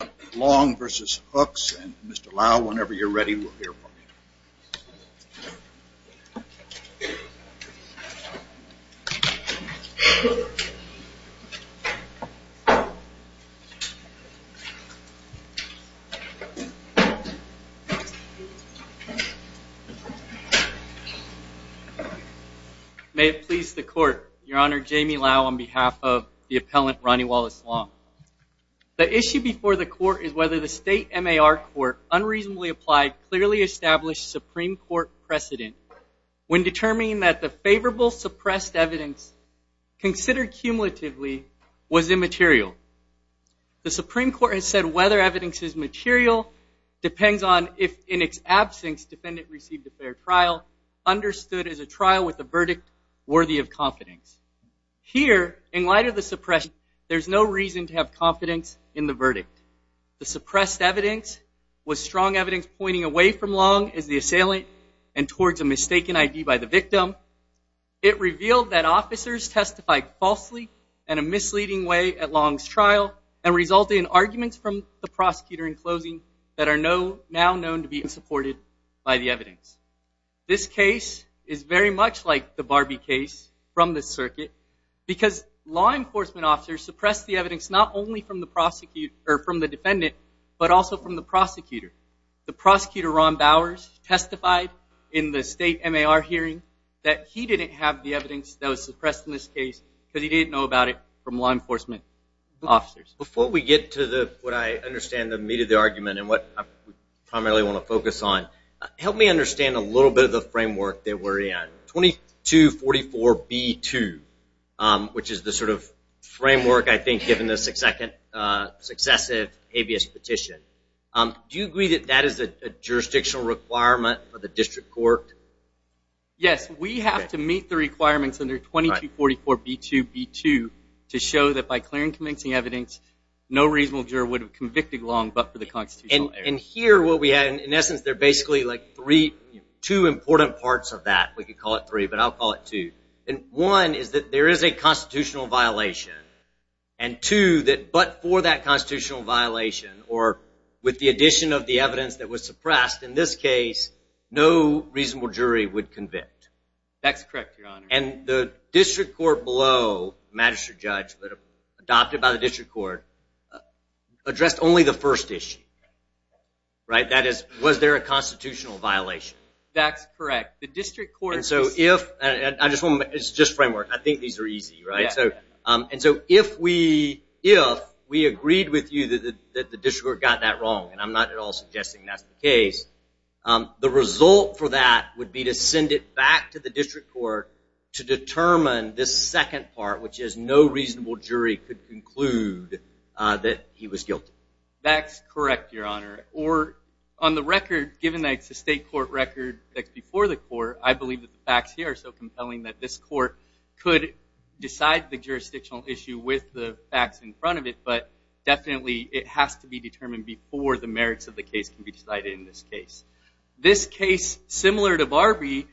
May it please the Court, Your Honor, Jamie Lau on behalf of the Appellant Ronnie Wallace Long. The issue before the Court is whether the State MAR Court unreasonably applied clearly established Supreme Court precedent when determining that the favorable suppressed evidence considered cumulatively was immaterial. The Supreme Court has said whether evidence is material depends on if in its absence defendant received a fair trial understood as a trial with a verdict worthy of confidence. Here in light of the suppression there's no reason to have confidence in the verdict. The suppressed evidence was strong evidence pointing away from Long as the assailant and towards a mistaken ID by the victim. It revealed that officers testified falsely in a misleading way at Long's trial and resulted in arguments from the prosecutor in closing that are now known to be supported by the evidence. This case is very much like the Barbie case from the circuit because law enforcement officers suppressed the evidence not only from the defendant but also from the prosecutor. The prosecutor Ron Bowers testified in the State MAR hearing that he didn't have the evidence that was suppressed in this case because he didn't know about it from law enforcement officers. Before we get to what I understand the meat of the argument and what I primarily want to focus on, help me understand a little bit of the framework that we're in. 2244B2 which is the sort of framework I think given the successive habeas petition. Do you agree that that is a jurisdictional requirement for the district court? Yes, we have to meet the requirements under 2244B2B2 to show that by clearing convincing evidence no reasonable juror would have convicted Long but for the constitutional error. And here what we have, in essence there are basically like three, two important parts of that, we could call it three but I'll call it two. And one is that there is a constitutional violation and two that but for that constitutional violation or with the addition of the evidence that was suppressed in this case no reasonable jury would convict. That's correct, your honor. And the district court below, magistrate judge adopted by the district court addressed only the first issue, right? That is was there a constitutional violation? That's correct, the district court. And so if, it's just framework, I think these are easy, right? And so if we agreed with you that the district court got that wrong, and I'm not at all suggesting that's the case, the result for that would be to send it back to the district court to determine this second part which is no reasonable jury could conclude that he was guilty. That's correct, your honor. Or on the record, given that it's a state court record that's before the court, I believe that the facts here are so compelling that this court could decide the jurisdictional issue with the facts in front of it but definitely it has to be determined before the merits of the case can be decided in this case. This case, similar to Barbie,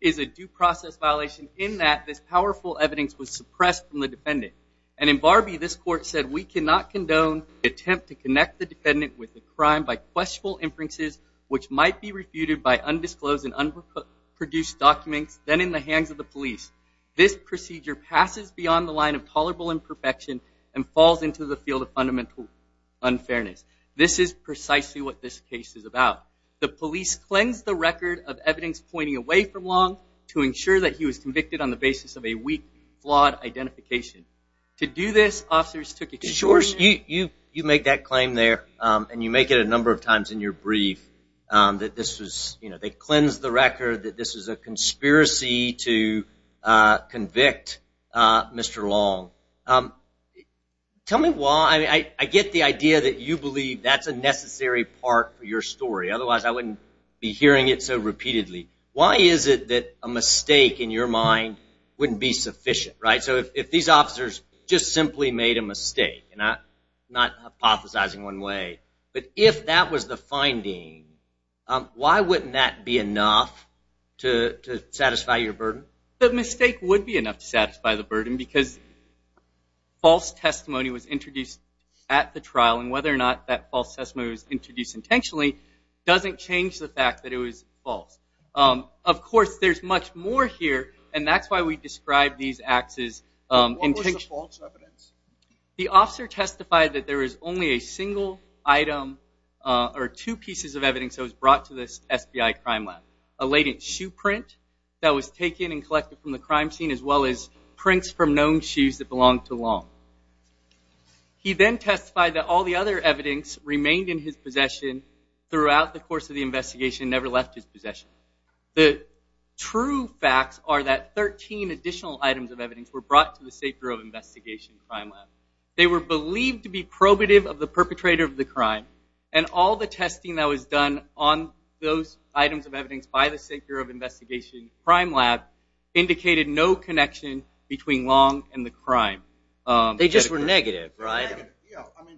is a due process violation in that this powerful evidence was suppressed from the defendant. And in Barbie, this court said, we cannot condone the attempt to connect the defendant with the crime by questionable inferences which might be refuted by undisclosed and unproduced documents then in the hands of the police. This procedure passes beyond the line of tolerable imperfection and falls into the field of fundamental unfairness. This is precisely what this case is about. The police cleansed the record of evidence pointing away from Long to ensure that he was convicted on the basis of a weak, flawed identification. To do this, officers took extraordinary measures. You make that claim there and you make it a number of times in your brief that this was, you know, they cleansed the record, that this was a conspiracy to convict Mr. Long. Tell me why, I get the idea that you believe that's a necessary part for your story. Otherwise I wouldn't be hearing it so repeatedly. Why is it that a mistake in your mind wouldn't be sufficient, right? So if these officers just simply made a mistake, and I'm not hypothesizing one way, but if that was the finding, why wouldn't that be enough to satisfy your burden? The mistake would be enough to satisfy the burden because false testimony was introduced at the trial and whether or not that false testimony was introduced intentionally doesn't change the fact that it was false. Of course, there's much more here and that's why we describe these acts as intentional. What was the false evidence? The officer testified that there was only a single item or two pieces of evidence that was brought to this SBI crime lab. A latent shoe print that was taken and collected from the crime scene as well as prints from known shoes that belonged to Long. He then testified that all the other evidence remained in his possession throughout the course of the investigation, never left his possession. The true facts are that 13 additional items of evidence were brought to the State Bureau of Investigation crime lab. They were believed to be probative of the perpetrator of the crime and all the testing that was done on those items of evidence by the State Bureau of Investigation crime lab indicated no connection between Long and the crime. They just were negative, right?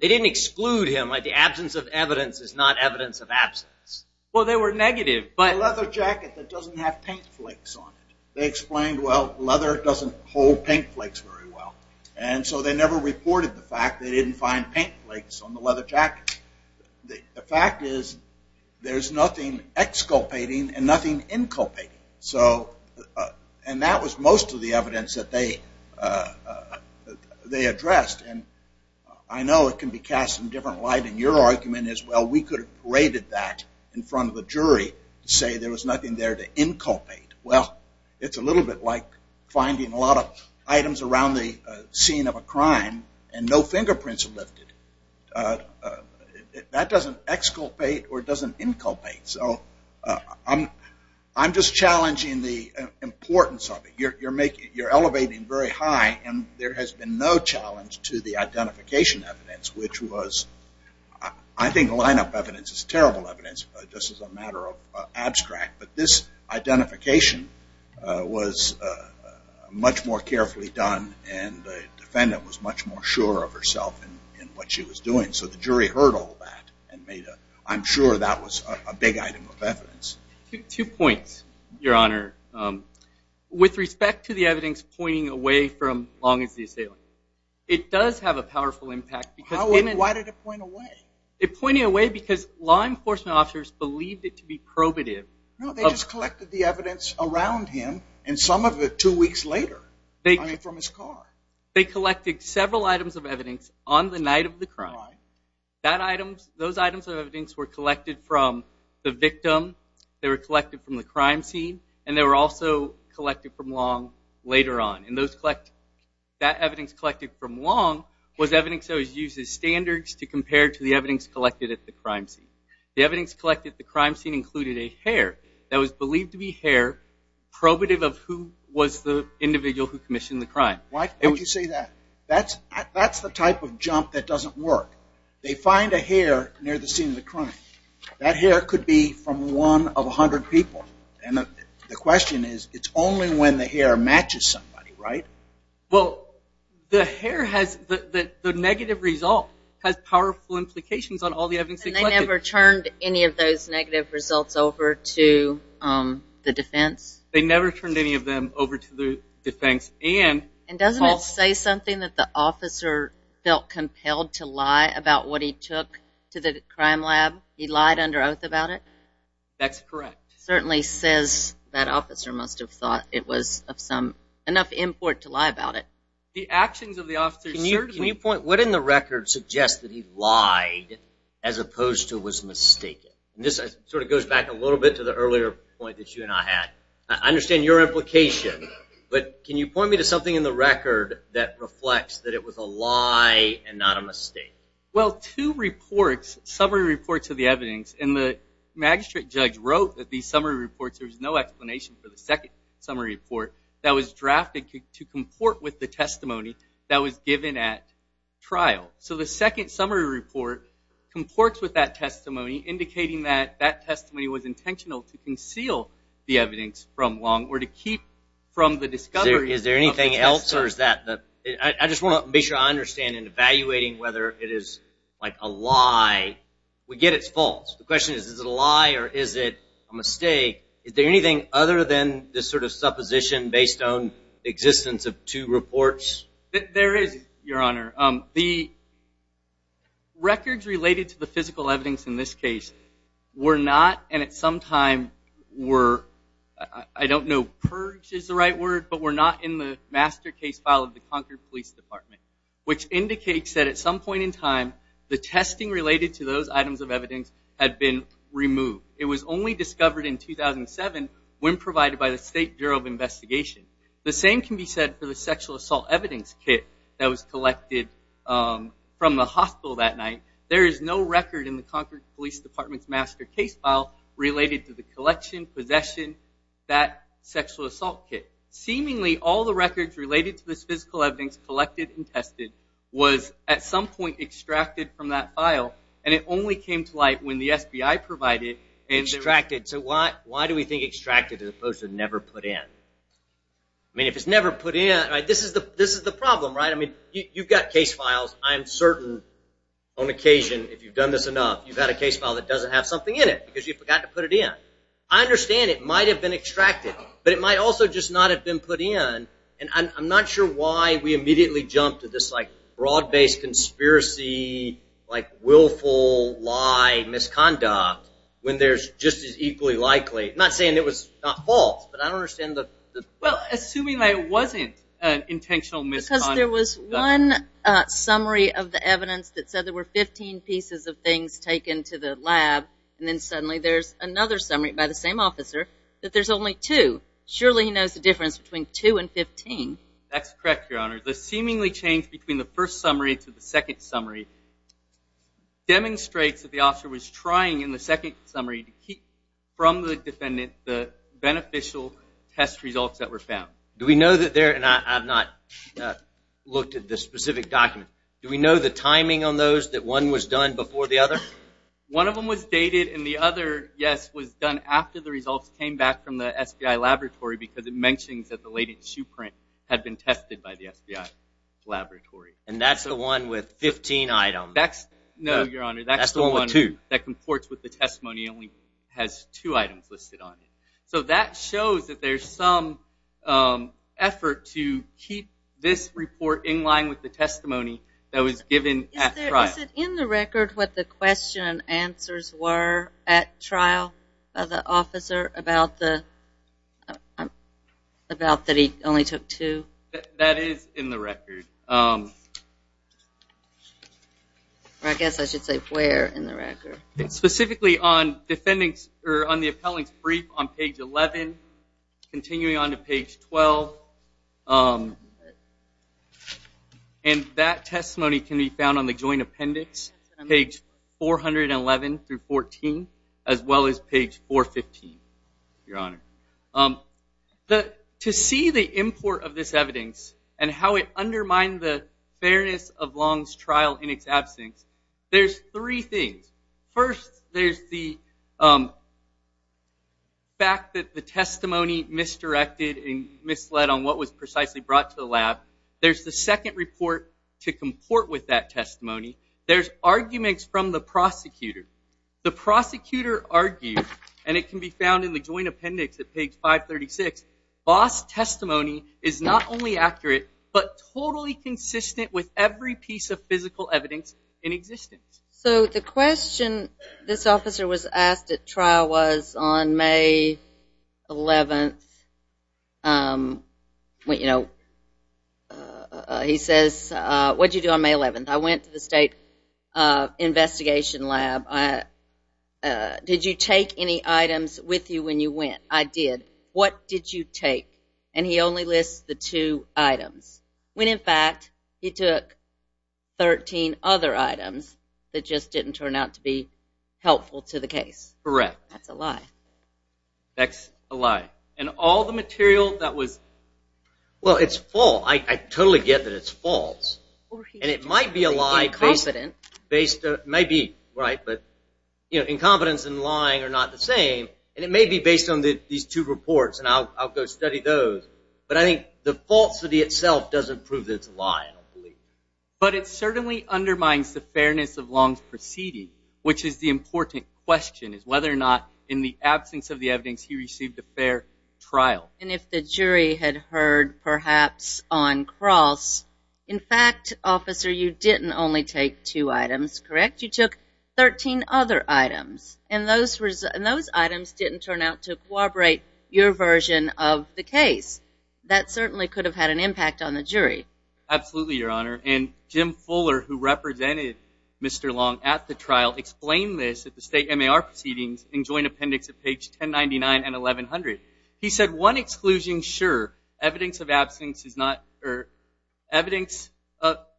They didn't exclude him like the absence of evidence is not evidence of absence. Well, they were negative, but... The leather jacket that doesn't have paint flakes on it. They explained, well, leather doesn't hold paint flakes very well. And so they never reported the fact they didn't find paint flakes on the leather jacket. The fact is there's nothing exculpating and nothing inculpating. So, and that was most of the evidence that they addressed. And I know it can be cast in different light and your argument is, well, we could have paraded that in front of a jury to say there was nothing there to inculpate. Well, it's a little bit like finding a lot of items around the scene of a crime and no fingerprints were lifted. That doesn't exculpate or doesn't inculpate. So I'm just challenging the importance of it. You're elevating very high and there has been no challenge to the identification evidence, which was, I think lineup evidence is terrible evidence just as a matter of abstract, but this identification was much more carefully done and the defendant was much more sure of herself in what she was doing. So the jury heard all that and made a, I'm sure that was a big item of evidence. Two points, Your Honor. With respect to the evidence pointing away from Long as the Assailant, it does have a powerful impact. Why did it point away? It pointed away because law enforcement officers believed it to be probative. No, they just collected the evidence around him and some of it two weeks later, I mean from his car. They collected several items of evidence on the night of the crime. Those items of evidence were collected from the victim, they were collected from the crime scene, and they were also collected from Long later on. That evidence collected from Long was evidence that was used as standards to compare to the evidence collected at the crime scene. The evidence collected at the crime scene included a hair that was believed to be hair probative of who was the individual who commissioned the crime. Why did you say that? That's the type of jump that doesn't work. They find a hair near the scene of the crime. That hair could be from one of a hundred people. And the question is, it's only when the hair matches somebody, right? Well, the hair has, the negative result has powerful implications on all the evidence they collected. And they never turned any of those negative results over to the defense? They never turned any of them over to the defense. And doesn't it say something that the officer felt compelled to lie about what he took to the crime lab? He lied under oath about it? That's correct. Certainly says that officer must have thought it was of some, enough import to lie about it. The actions of the officer certainly... Can you point, what in the record suggests that he lied as opposed to was mistaken? And this sort of goes back a little bit to the earlier point that you and I had. I understand your implication, but can you point me to something in the record that reflects that it was a lie and not a mistake? Well, two reports, summary reports of the evidence, and the magistrate judge wrote that these summary reports, there was no explanation for the second summary report that was drafted to comport with the testimony that was given at trial. So the second summary report comports with that testimony, indicating that that testimony was intentional to conceal the evidence from Long, or to keep from the discovery of the testimony. Is there anything else, or is that the... I just want to make sure I understand in evaluating whether it is like a lie, we get it's false. The question is, is it a lie, or is it a mistake? Is there anything other than this sort of supposition based on existence of two reports? There is, Your Honor. The records related to the physical evidence in this case were not, and at some time were, I don't know, purged is the right word, but were not in the master case file of the Concord Police Department, which indicates that at some point in time, the testing related to those items of evidence had been removed. It was only discovered in 2007 when provided by the State Bureau of Investigation. The same can be said for the sexual assault evidence kit that was collected from the hospital that night. There is no record in the Concord Police Department's master case file related to the collection, possession, that sexual assault kit. Seemingly, all the records related to this physical evidence collected and tested was, at some point, extracted from that file, and it only came to light when the SBI provided... Extracted. So why do we think extracted as opposed to never put in? I mean, if it's never put in, this is the problem, right? I mean, you've got case files. I'm certain on occasion, if you've done this enough, you've got a case file that doesn't have something in it because you forgot to put it in. I understand it might have been extracted, but it might also just not have been put in, and I'm not sure why we immediately jumped to this, like, broad-based conspiracy, like, willful lie misconduct when there's just as equally likely... I'm not saying it was not false, but I don't understand the... Well, assuming that it wasn't an intentional misconduct... Because there was one summary of the evidence that said there were 15 pieces of things taken to the lab, and then suddenly there's another summary by the same officer that there's only two. Surely he knows the difference between two and 15. That's correct, Your Honor. The seemingly change between the first summary to the second summary demonstrates that the officer was trying in the second summary to keep from the defendant the beneficial test results that were found. Do we know that there... And I've not looked at the specific document. Do we know the timing on those that one was done before the other? One of them was dated, and the other, yes, was done after the results came back from the SBI laboratory because it mentions that the latent shoe print had been tested by the SBI laboratory. And that's the one with 15 items. No, Your Honor. That's the one that comports with the testimony. It only has two items listed on it. So that shows that there's some effort to keep this report in line with the testimony that was given at trial. Is it in the record what the question and answers were at trial by the officer about the... About that he only took two? That is in the record. I guess I should say where in the record. Specifically on the appellant's brief on page 11, continuing on to page 12. And that testimony can be found on the joint appendix, page 411 through 14, as well as page 415, Your Honor. To see the import of this evidence and how it undermined the fairness of Long's trial in its absence, there's three things. First, there's the fact that the testimony misdirected and misled on what was precisely brought to the lab. There's the second report to comport with that testimony. There's arguments from the prosecutor. The prosecutor argued, and it can be found in the joint appendix at page 536, Boss' testimony is not only accurate but totally consistent with every piece of physical evidence in existence. So the question this officer was asked at trial was on May 11th, he says, what did you do on May 11th? I went to the state investigation lab. Did you take any items with you when you went? I did. What did you take? And he only lists the two items, when in fact he took 13 other items that just didn't turn out to be helpful to the case. Correct. That's a lie. That's a lie. And all the material that was... Well, it's full. I totally get that it's false. And it might be a lie based on... Incompetent. May be, right, but incompetence and lying are not the same. And it may be based on these two reports, and I'll go study those. But I think the falsity itself doesn't prove that it's a lie. But it certainly undermines the fairness of Long's proceeding, which is the important question, is whether or not in the absence of the evidence he received a fair trial. And if the jury had heard perhaps on cross, in fact, officer, you didn't only take two items, correct? You took 13 other items. And those items didn't turn out to corroborate your version of the case. That certainly could have had an impact on the jury. Absolutely, Your Honor. And Jim Fuller, who represented Mr. Long at the trial, explained this at the state MAR proceedings in joint appendix of page 1099 and 1100. He said, one exclusion, sure. Evidence of absence is not...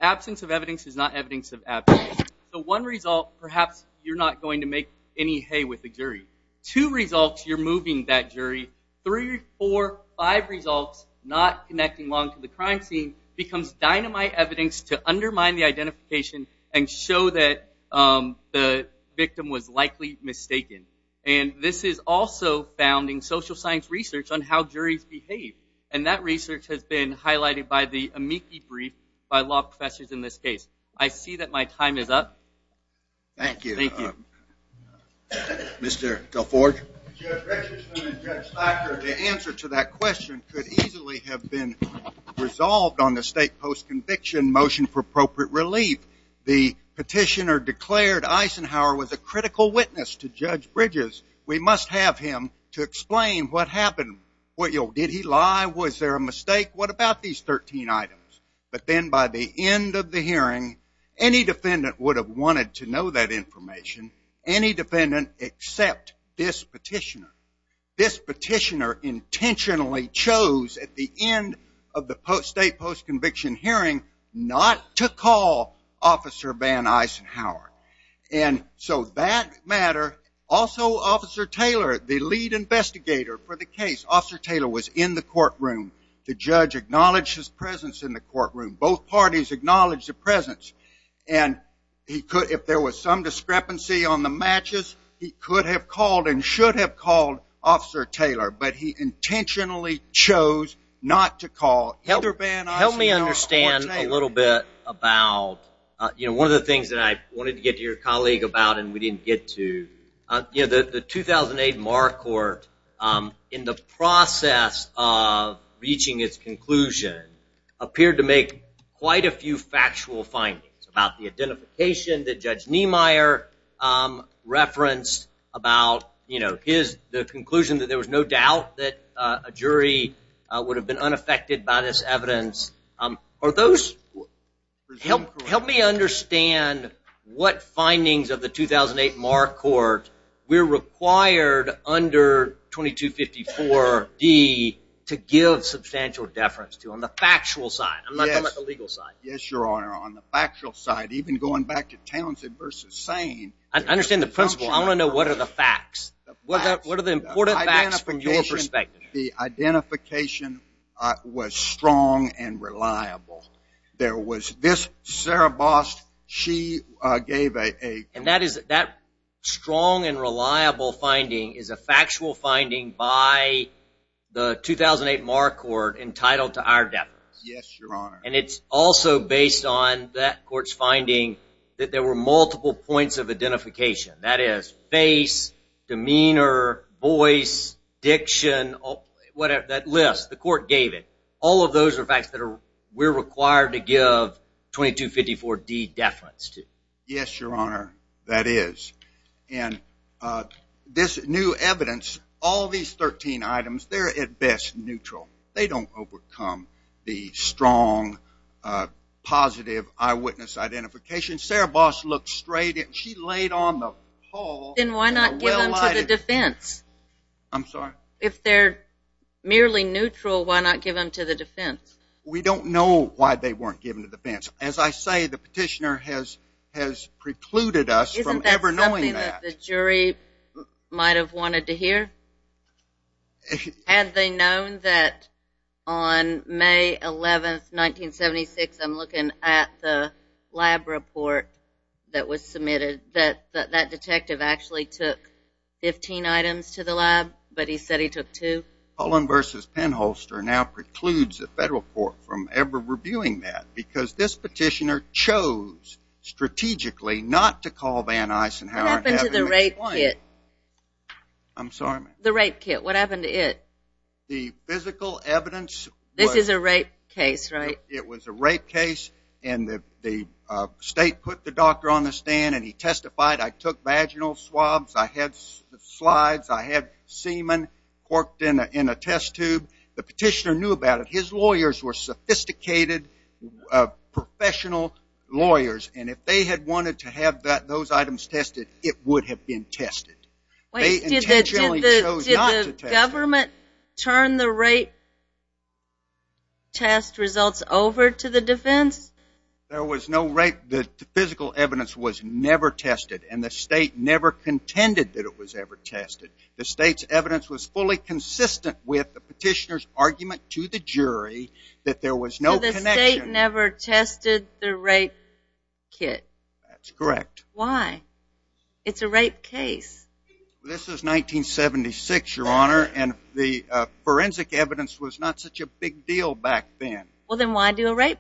Absence of evidence is not evidence of absence. So one result, perhaps you're not going to make any hay with the jury. Two results, you're moving that jury. Three, four, five results, not connecting Long to the crime scene becomes dynamite evidence to undermine the identification and show that the victim was likely mistaken. And this is also found in social science research on how juries behave. And that research has been highlighted by the amici brief by law professors in this case. I see that my time is up. Thank you. Thank you. Mr. Gelford? Judge Richardson and Judge Thacker, the answer to that question could easily have been resolved on the state post-conviction motion for appropriate relief. The petitioner declared Eisenhower was a critical witness to Judge Bridges. We must have him to explain what happened. Did he lie? Was there a mistake? What about these 13 items? But then by the end of the hearing, any defendant would have wanted to know that information. Any defendant except this petitioner. This petitioner intentionally chose at the end of the state post-conviction hearing not to call Officer Van Eisenhower. And so that matter, also Officer Taylor, the lead investigator for the case, Officer Taylor was in the courtroom. The judge acknowledged his presence in the courtroom. Both parties acknowledged the presence. And he could, if there was some discrepancy on the matches, he could have called and should have called Officer Taylor. But he intentionally chose not to call either Van Eisenhower or Officer Taylor. Help me understand a little bit about, you know, one of the things that I wanted to get to your colleague about and we didn't get to, you know, the 2008 Marr Court, in the process of reaching its conclusion, appeared to make quite a few factual findings about the identification that Judge Niemeyer referenced about, you know, his, the conclusion that there was no doubt that a jury would have been unaffected by this evidence. Are those, help me understand what findings of the 2008 Marr Court were required under 2254D to give substantial deference to on the factual side. I'm not talking about the legal side. Yes, your Honor. On the factual side, even going back to Townsend v. Sain. I understand the principle. I want to know what are the facts. What are the important facts from your perspective? The identification was strong and reliable. There was this, Sarah Bost, she gave a... And that is, that strong and reliable finding is a factual finding by the 2008 Marr Court entitled to our deference. Yes, your Honor. And it's also based on that court's finding that there were multiple points of identification. That is, face, demeanor, voice, diction, whatever, that list, the court gave it. All of those are facts that we're required to give 2254D deference to. Yes, your Honor, that is. And this new evidence, all these 13 items, they're at best neutral. They don't overcome the strong, positive eyewitness identification. Sarah Bost looked straight at, she laid on the pole and a well-lighted... Then why not give them to the defense? I'm sorry? If they're merely neutral, why not give them to the defense? We don't know why they weren't given to the defense. As I say, the petitioner has precluded us from ever knowing that. Isn't that something that the jury might have wanted to hear? Had they known that on May 11, 1976, I'm looking at the lab report that was submitted, that that detective actually took 15 items to the lab, but he said he took two? Pollen v. Penholster now precludes the federal court from ever reviewing that, because this petitioner chose strategically not to call Van Eisenhower and have him explain... What happened to the rape kit? I'm sorry? The rape kit. What happened to it? The physical evidence... This is a rape case, right? It was a rape case, and the state put the doctor on the stand, and he testified, I took vaginal swabs, I had slides, I had semen corked in a test tube. The petitioner knew about it. His lawyers were sophisticated, professional lawyers, and if they had wanted to have those items tested, it would have been tested. Wait, did the government turn the rape test results over to the defense? There was no rape... The physical evidence was never tested, and the state never contended that it was ever tested. The state's evidence was fully consistent with the petitioner's argument to the jury that there was no connection... So the state never tested the rape kit. That's correct. Why? It's a rape case. This is 1976, Your Honor, and the forensic evidence was not such a big deal back then. Well, then why do a rape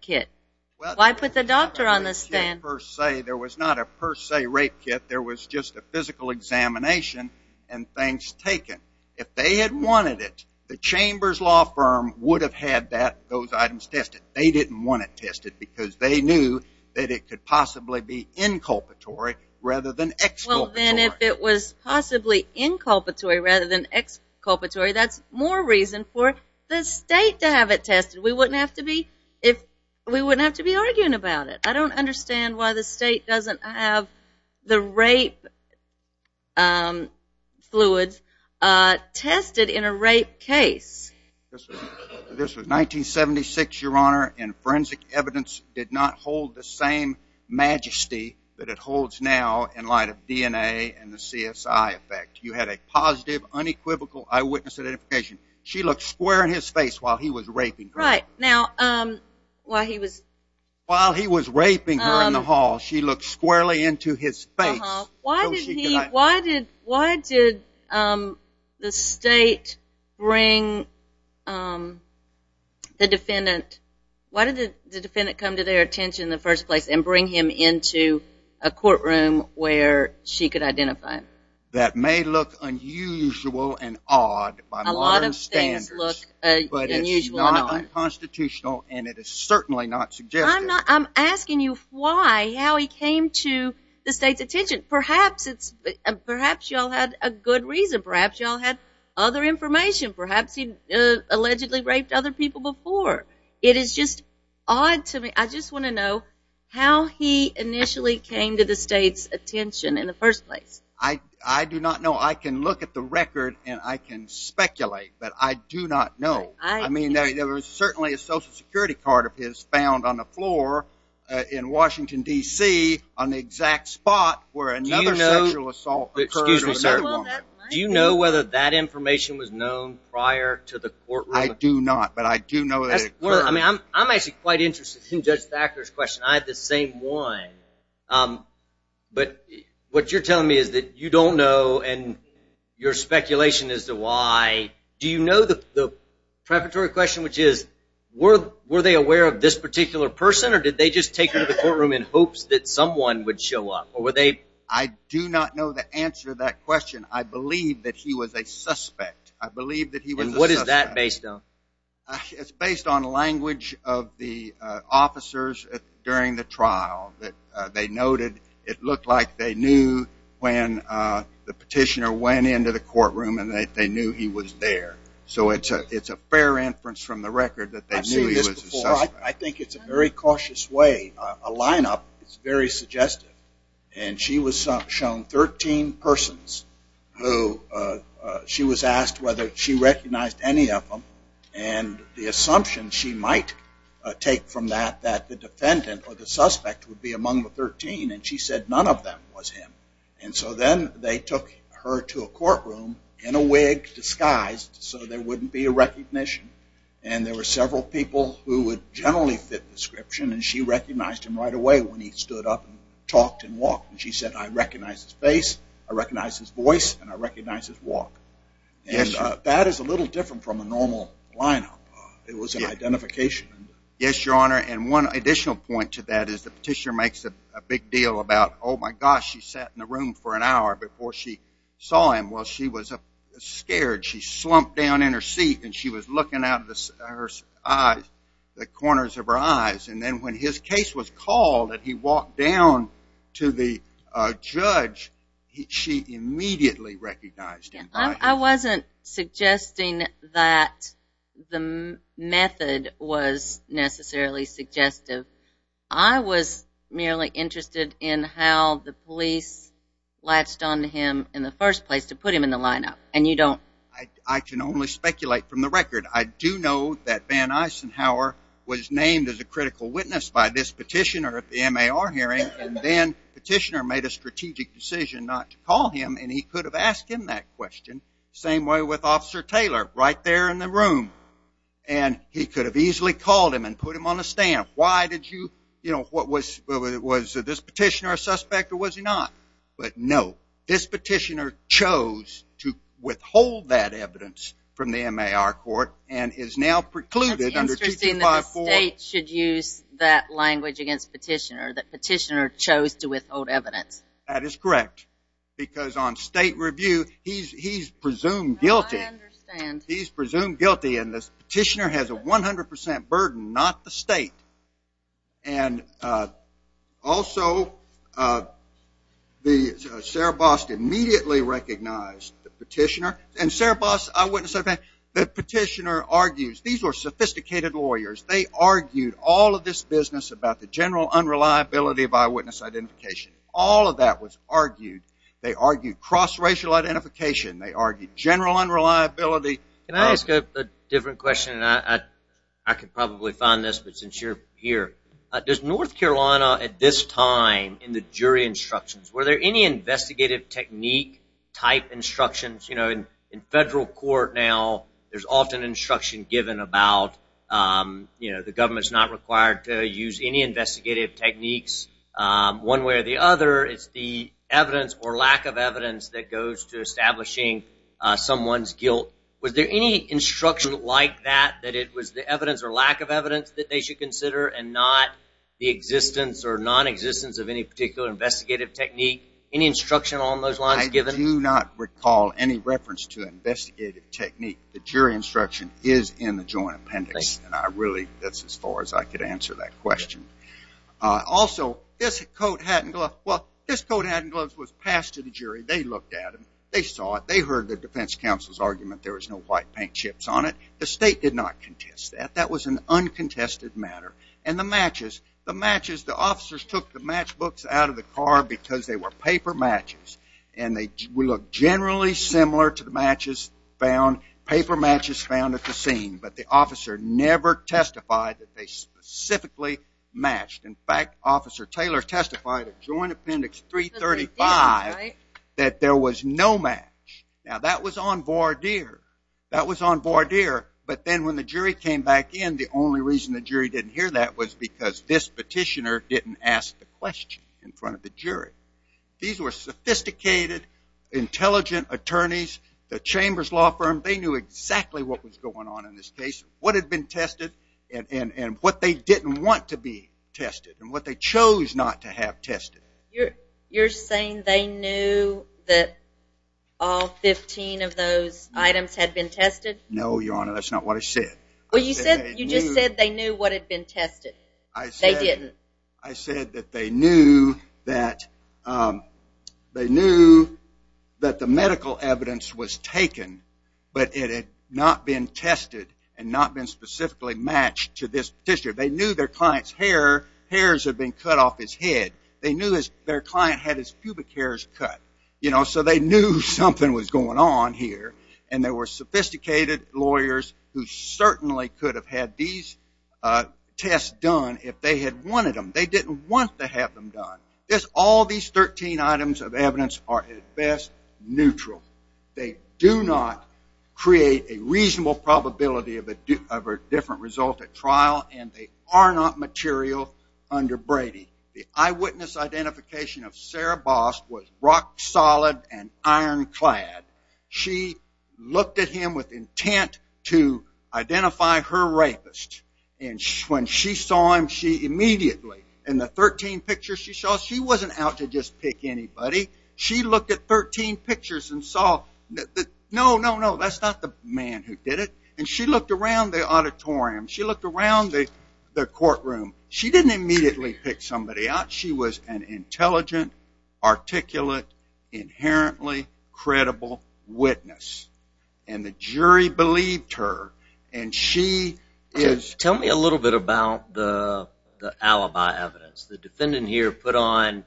kit? Why put the doctor on the stand? There was not a per se rape kit, there was just a physical examination and things taken. If they had wanted it, the Chambers Law Firm would have had those items tested. They didn't want it tested because they knew that it could possibly be inculpatory rather than exculpatory. Well, then if it was possibly inculpatory rather than exculpatory, that's more reason for the state to have it tested. We wouldn't have to be arguing about it. I don't understand why the state doesn't have the rape fluids tested in a rape case. This was 1976, Your Honor, and forensic evidence did not hold the same majesty that it holds now in light of DNA and the CSI effect. You had a positive, unequivocal eyewitness identification. She looked square in his face while he was raping her. Right. Now, while he was... While he was raping her in the hall, she looked squarely into his face. Why did the state bring the defendant... Why did the defendant come to their attention in the first place and bring him into a courtroom where she could identify him? That may look unusual and odd by modern standards, but it's not unconstitutional and it is certainly not suggestive. I'm asking you why, how he came to the state's attention. Perhaps you all had a good reason. Perhaps you all had other information. Perhaps he allegedly raped other people before. It is just odd to me. I just want to know how he initially came to the state's attention in the first place. I do not know. I can look at the record and I can speculate, but I do not know. I mean, there was certainly a Social Security card of his found on the floor in Washington, D.C. on the exact spot where another sexual assault occurred with another woman. Do you know whether that information was known prior to the courtroom? I do not, but I do know that it occurred. I'm actually quite interested in Judge Thacker's question. I had the same one, but what you're telling me is that you don't know and your speculation as to why... Do you know the preparatory question, which is, were they aware of this particular person, or did they just take her to the courtroom in hopes that someone would show up, or were they... I do not know the answer to that question. I believe that he was a suspect. I believe that he was a suspect. And what is that based on? It's based on language of the officers during the trial that they noted. It looked like they knew when the petitioner went into the courtroom and that they knew he was there. So it's a fair inference from the record that they knew he was a suspect. I think it's a very cautious way. A lineup is very suggestive, and she was shown 13 persons who she was asked whether she recognized any of them, and the assumption she might take from that that the defendant or the suspect would be among the 13, and she said none of them were in the courtroom in a wig, disguised, so there wouldn't be a recognition. And there were several people who would generally fit the description, and she recognized him right away when he stood up and talked and walked. And she said, I recognize his face, I recognize his voice, and I recognize his walk. And that is a little different from a normal lineup. It was an identification. Yes, Your Honor, and one additional point to that is the petitioner makes a big deal about, oh, my gosh, she sat in the room for an hour before she saw him. Well, she was scared. She slumped down in her seat, and she was looking out of her eyes, the corners of her eyes, and then when his case was called and he walked down to the judge, she immediately recognized him. I wasn't suggesting that the method was necessarily suggestive. I was merely interested in the how the police latched on to him in the first place to put him in the lineup, and you don't... I can only speculate from the record. I do know that Van Eisenhower was named as a critical witness by this petitioner at the MAR hearing, and then the petitioner made a strategic decision not to call him, and he could have asked him that question the same way with Officer Taylor, right there in the room. And he could have easily called him and put him on the stand. Why did you, you know, was this petitioner a suspect or was he not? But, no, this petitioner chose to withhold that evidence from the MAR court and is now precluded under 2254... It's interesting that the state should use that language against petitioner, that petitioner chose to withhold evidence. That is correct, because on state review, he's presumed guilty, and this petitioner has a 100% burden, not the state. And also, Sarah Bost immediately recognized the petitioner, and Sarah Bost, eyewitness, the petitioner argues, these were sophisticated lawyers. They argued all of this business about the general unreliability of eyewitness identification. All of that was argued. They argued cross-racial identification. They argued general unreliability... Can I ask a different question? I could probably find this, but since you're here, does North Carolina at this time, in the jury instructions, were there any investigative technique type instructions? You know, in federal court now, there's often instruction given about, you know, the government's not required to use any investigative techniques. One way or the other, it's the evidence or lack of evidence that goes to establishing someone's guilt. Was there any instruction like that, that it was the evidence or lack of evidence that they should consider, and not the existence or nonexistence of any particular investigative technique? Any instruction on those lines given? I do not recall any reference to investigative technique. The jury instruction is in the joint appendix, and I really, that's as far as I could answer that question. Also, this coat, hat, and gloves, well, this coat, hat, and gloves was passed to the jury. They looked at them. They saw it. They heard the defense counsel's argument. There was no white paint chips on it. The state did not contest that. That was an uncontested matter. And the matches, the matches, the officers took the matchbooks out of the car because they were paper matches, and they looked generally similar to the matches found, paper matches found at the scene, but the officer never testified that they specifically matched. In fact, Officer Taylor testified at Joint Appendix 335 that there was no match. Now, that was on voir dire. That was on voir dire, but then when the jury came back in, the only reason the jury didn't hear that was because this petitioner didn't ask the question in front of the jury. These were sophisticated, intelligent attorneys. The Chambers Law Firm, they knew exactly what was going on in this case, what had been tested, and what they didn't want to be tested, and what they chose not to have tested. You're saying they knew that all 15 of those items had been tested? No, Your Honor, that's not what I said. You just said they knew what had been tested. They didn't. I said that they knew that the medical evidence was taken, but it had not been tested and not been specifically matched to this petitioner. They knew their client had his pubic hairs cut, so they knew something was going on here, and there were sophisticated lawyers who certainly could have had these tests done if they had wanted them. They didn't want to have them done. All these 13 items of evidence are at best neutral. They do not create a reasonable probability of a different result at trial, and they are not material under Brady. The eyewitness identification of Sarah Bost was rock-solid and iron-clad. She looked at him with intent to identify her rapist, and when she saw him, she immediately, in the 13 pictures she saw, she wasn't out to just pick anybody. She looked at 13 pictures and saw, no, no, no, that's not the man who did it, and she looked around the auditorium, she looked around the courtroom. She didn't immediately pick somebody out. She was an intelligent, articulate, inherently credible witness, and the jury believed her. Tell me a little bit about the alibi evidence. The defendant here put on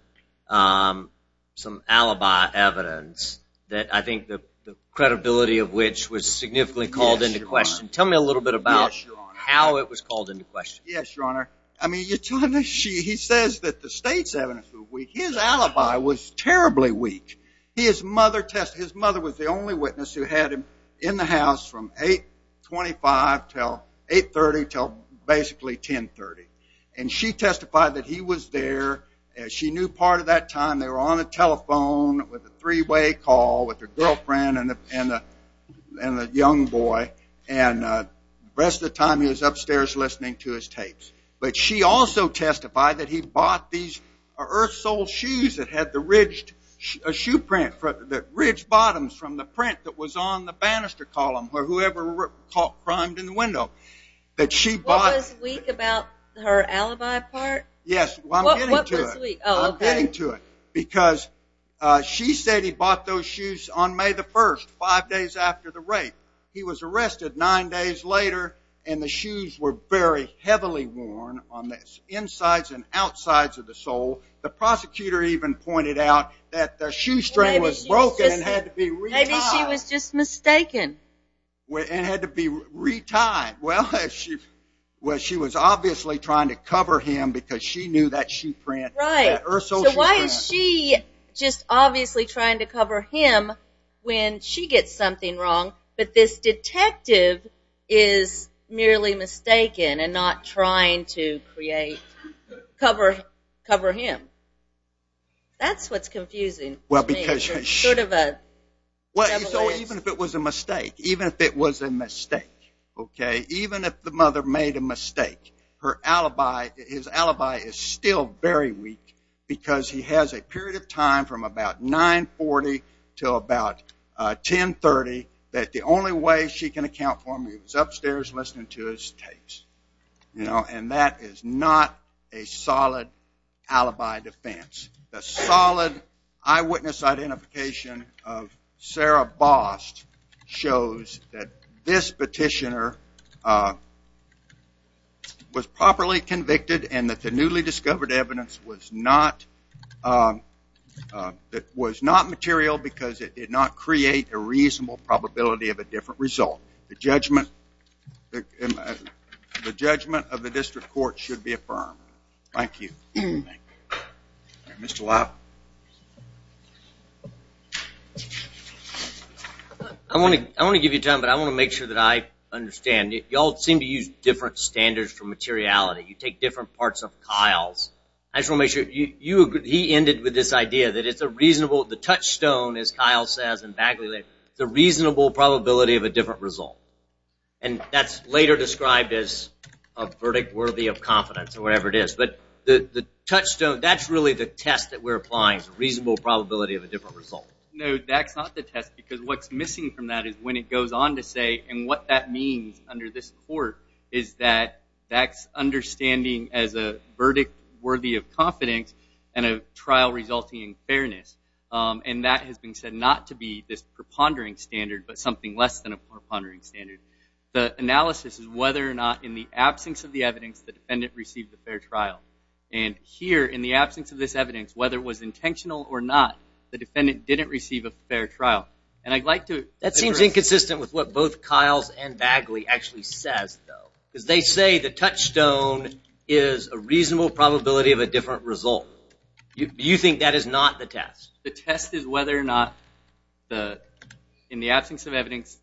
some alibi evidence that I think the credibility of which was significantly called into question. Tell me a little bit about how it was called into question. Yes, Your Honor. He says that the state's evidence was weak. His alibi was terribly weak. His mother was the only witness who had him in the house from 8.25 until 8.30 until basically 10.30, and she testified that he was there. She knew part of that time they were on the telephone with a three-way call with her girlfriend and a young boy, and the rest of the time he was upstairs listening to his tapes. But she also testified that he bought these Earth Soul shoes that had the ridged shoe print, the ridged bottoms from the print that was on the banister column where whoever climbed in the window. What was weak about her alibi part? Yes, I'm getting to it, because she said he bought those shoes on May the 1st, five days after the rape. He was arrested nine days later, and the shoes were very heavily worn on the insides and outsides of the sole. The prosecutor even pointed out that the shoestring was broken and had to be re-tied. Maybe she was just mistaken. It had to be re-tied. Well, she was obviously trying to cover him because she knew that shoe print. Right. So why is she just obviously trying to cover him when she gets something wrong, but this detective is merely mistaken and not trying to cover him. That's what's confusing to me. Even if the mother made a mistake, her alibi, his alibi is still very weak because he has a period of time from about 9.40 until about 10.30 that the only way she can account for him is upstairs listening to his tapes. That is not a solid alibi defense. The solid eyewitness identification of Sarah Bost shows that this petitioner was properly convicted and that the newly discovered evidence was not material because it did not create a reasonable probability of a different result. The judgment of the district court should be affirmed. Thank you. Mr. Lopp. I want to give you time, but I want to make sure that I understand. You all seem to use different standards for materiality. You take different parts of Kyle's. He ended with this idea that it's a reasonable, the touchstone as Kyle says, the reasonable probability of a different result. That's later described as a verdict worthy of confidence or whatever it is. The touchstone, that's really the test that we're applying. It's a reasonable probability of a different result. No, that's not the test because what's missing from that is when it goes on to say and what that means under this court is that that's understanding as a verdict worthy of confidence and a trial resulting in fairness. That has been said not to be this prepondering standard but something less than a prepondering standard. The analysis is whether or not in the absence of the evidence the defendant received a fair trial. Here, in the absence of this evidence, whether it was intentional or not, the defendant didn't receive a fair trial. That seems inconsistent with what both Kyle's and Bagley actually says though because they say the touchstone is a reasonable probability of a different result. You think that is not the test? The test is whether or not in the absence of evidence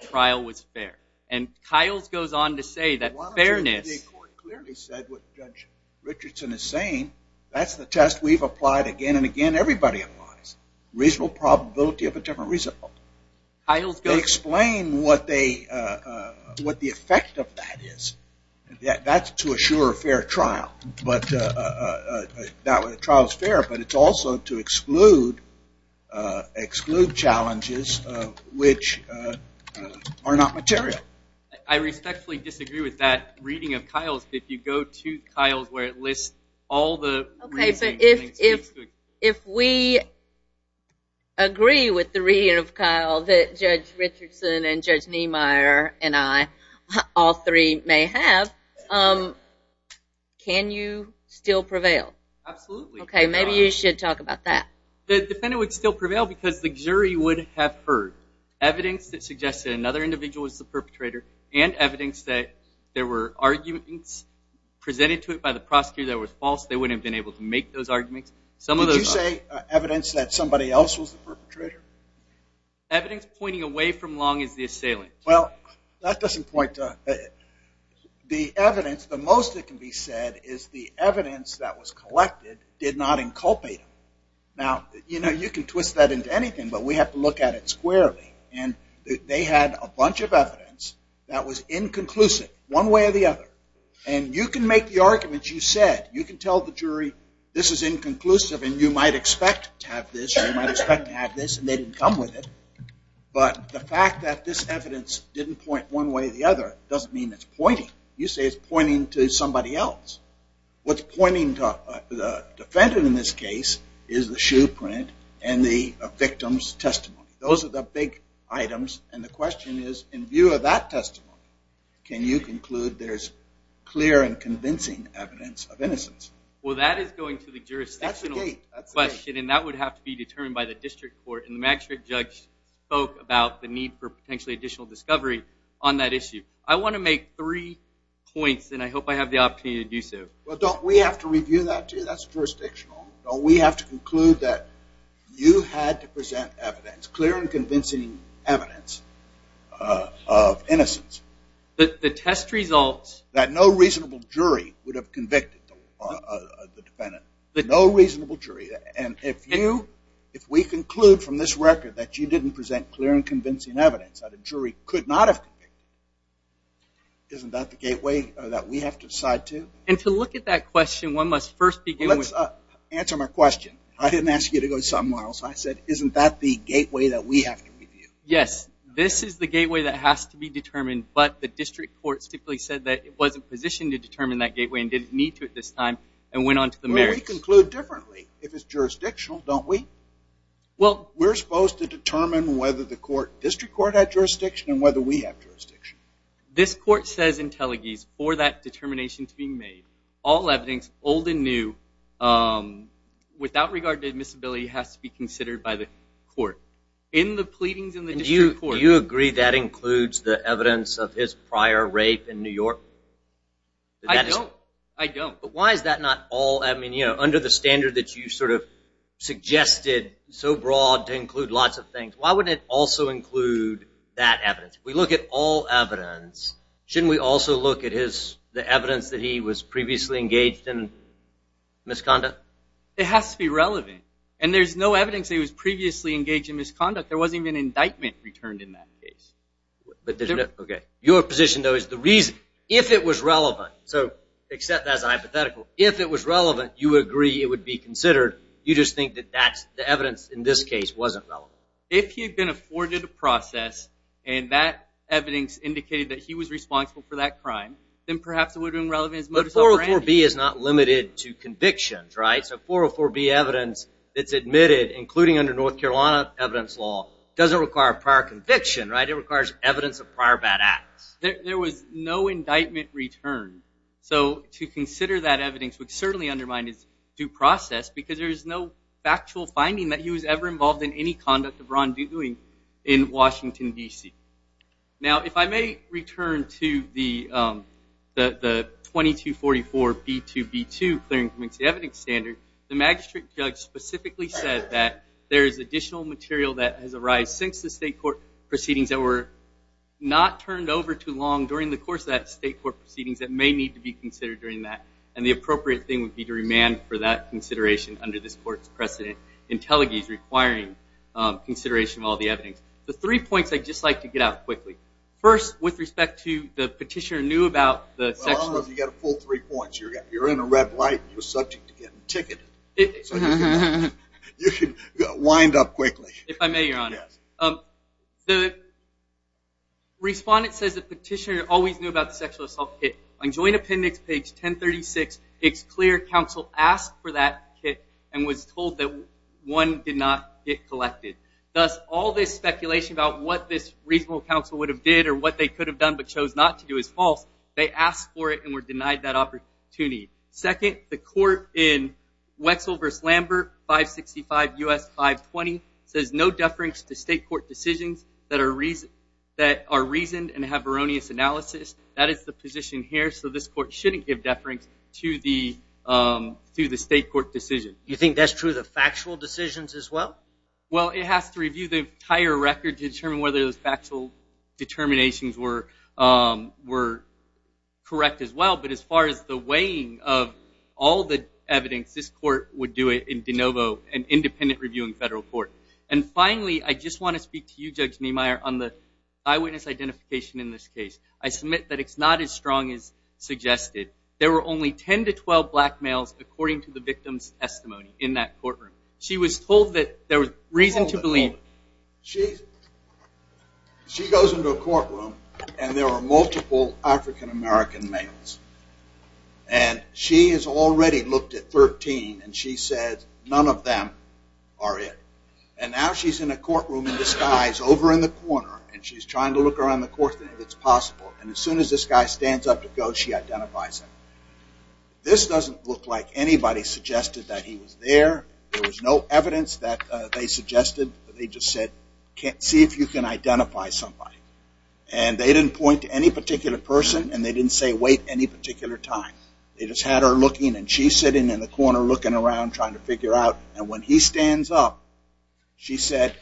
the trial was fair. And Kyle's goes on to say that fairness... The court clearly said what Judge Richardson is saying. That's the test we've applied again and again. Everybody applies. Reasonable probability of a different result. They explain what the effect of that is. That's to assure a fair trial. A trial is fair but it's also to exclude challenges which are not material. I respectfully disagree with that reading of Kyle's. If you go to Kyle's where it lists all the... If we agree with the reading of Kyle that Judge Richardson and Judge Niemeyer and I, all three may have, can you still prevail? Absolutely. Maybe you should talk about that. The defendant would still prevail because the jury would have heard evidence that suggested another individual was the perpetrator and evidence that there were arguments presented to it by the prosecutor that were false. They wouldn't have been able to make those arguments. Did you say evidence that somebody else was the perpetrator? Evidence pointing away from Long is the assailant. That doesn't point to... The evidence, the most that can be said is the evidence that was collected did not inculpate him. You can twist that into anything but we have to look at it squarely. They had a bunch of evidence that was inconclusive one way or the other. You can make the arguments you said. You can tell the jury this is inconclusive and you might expect to have this and you might expect to have this and they didn't come with it. But the fact that this evidence didn't point one way or the other doesn't mean it's pointing. You say it's pointing to somebody else. What's pointing to the defendant in this case is the shoe print and the victim's testimony. Those are the big items and the question is in view of that testimony can you conclude there's clear and convincing evidence of innocence? Well that is going to the jurisdictional question and that would have to be determined by the district court and the magistrate judge spoke about the need for potentially additional discovery on that issue. I want to make three points and I hope I have the opportunity to do so. Well don't we have to review that too? That's jurisdictional. Don't we have to conclude that you had to present evidence, clear and convincing evidence of innocence. The test results. That no reasonable jury would have convicted the defendant. No reasonable jury and if you, if we conclude from this record that you didn't present clear and convincing evidence that the jury could not have convicted, isn't that the gateway that we have to decide to? And to look at that question, one must first begin with... Let's answer my question. I didn't ask you to go somewhere else. I said isn't that the gateway that we have to review? Yes. This is the gateway that has to be determined but the district court simply said that it wasn't positioned to determine that gateway and didn't need to at this time and went on to the merits. Well we conclude differently if it's jurisdictional, don't we? We're supposed to determine whether the court, district court had jurisdiction and whether we have jurisdiction. This court says in Telegis for that determination to be made, all evidence, old and new, without regard to admissibility has to be considered by the court. In the pleadings in the district court... Do you agree that includes the evidence of his prior rape in New York? I don't. I don't. Why is that not all? Under the standard that you sort of suggested so broad to include lots of things, why wouldn't it also include that evidence? If we look at all evidence, shouldn't we also look at the evidence that he was previously engaged in misconduct? It has to be relevant. And there's no evidence that he was previously engaged in misconduct. There wasn't even an indictment returned in that case. Your position though is the reason, if it was relevant, except as a hypothetical, if it was relevant, you would agree it would be considered. You just think that the evidence in this case wasn't relevant. If he had been afforded a process and that evidence indicated that he was responsible for that crime, then perhaps it would have been relevant as motives of brandy. But 404B is not limited to convictions, right? So 404B evidence that's admitted, including under North Carolina evidence law, doesn't require a prior conviction, right? It requires evidence of prior bad acts. There was no indictment returned. So to consider that evidence would certainly undermine his due process because there's no factual finding that he was ever involved in any conduct of wrongdoing in Washington, D.C. Now if I may return to the 2244B2B2 Clearing Committee Evidence Standard, the magistrate judge specifically said that there is additional material that has arised since the state court proceedings that were not turned over too long during the course of that state court proceedings that may need to be considered during that. And the appropriate thing would be to remand for that consideration under this court's precedent in Teluguy's requiring consideration of all the evidence. The three points I'd just like to get out quickly. First, with respect to the petitioner knew about the section of the statute. Well, I don't know if you got a full three points. You're in a red light and you're subject to getting ticketed. So you can wind up quickly. If I may, Your Honor. The respondent says the petitioner always knew about the sexual assault kit. On joint appendix page 1036, it's clear counsel asked for that kit and was told that one did not get collected. Thus, all this speculation about what this reasonable counsel would have did or what they could have done but chose not to do is false. They asked for it and were denied that opportunity. Second, the court in Wetzel v. Lambert, 565 U.S. 520 says no deference to state court decisions that are reasoned and have erroneous analysis. That is the position here. So this court shouldn't give deference to the state court decision. You think that's true of the factual decisions as well? Well, it has to review the entire record to determine whether those factual determinations were correct as well. But as far as the weighing of all the evidence, this court would do it in de novo, an independent reviewing federal court. And finally, I just want to speak to you, Judge Niemeyer, on the eyewitness identification in this case. I submit that it's not as strong as suggested. There were only 10 to 12 black males, according to the victim's testimony, in that courtroom. She was told that there was reason to believe. She goes into a courtroom, and there were multiple African-American males. And she has already looked at 13, and she said none of them are it. And now she's in a courtroom in disguise over in the corner, and she's trying to look around the courtroom if it's possible. And as soon as this guy stands up to go, she identifies him. This doesn't look like anybody suggested that he was there. There was no evidence that they suggested. They just said, see if you can identify somebody. And they didn't point to any particular person, and they didn't say, wait any particular time. They just had her looking, and she's sitting in the corner looking around, trying to figure out. And when he stands up, she said,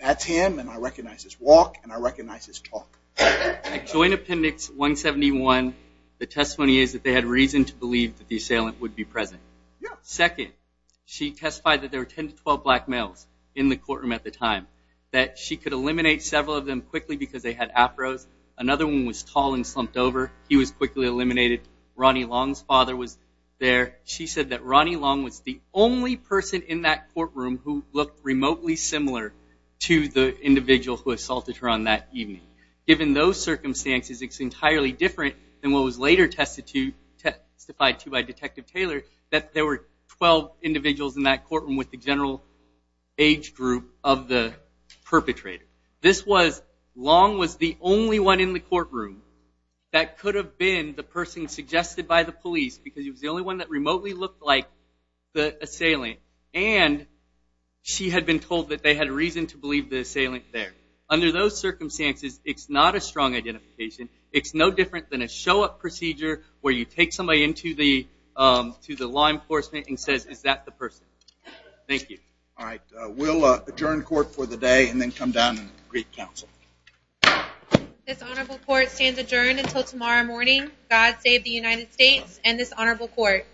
that's him, and I recognize his walk, and I recognize his talk. In Joint Appendix 171, the testimony is that they had reason to believe that the assailant would be present. Second, she testified that there were 10 to 12 black males in the courtroom at the time, that she could eliminate several of them quickly because they had afros. Another one was tall and slumped over. He was quickly eliminated. Ronnie Long's father was there. She said that Ronnie Long was the only person in that courtroom who looked remotely similar to the individual who assaulted her on that evening. Given those circumstances, it's entirely different than what was later testified to by Detective Taylor that there were 12 individuals in that courtroom with the general age group of the perpetrator. This was, Long was the only one in the courtroom that could have been the person suggested by the police because he was the only one that remotely looked like the assailant. And she had been told that they had reason to believe the assailant there. Under those circumstances, it's not a strong identification. It's no different than a show-up procedure where you take somebody into the law enforcement and say, is that the person? Thank you. All right. We'll adjourn court for the day and then come down and greet counsel. This honorable court stands adjourned until tomorrow morning. God save the United States and this honorable court.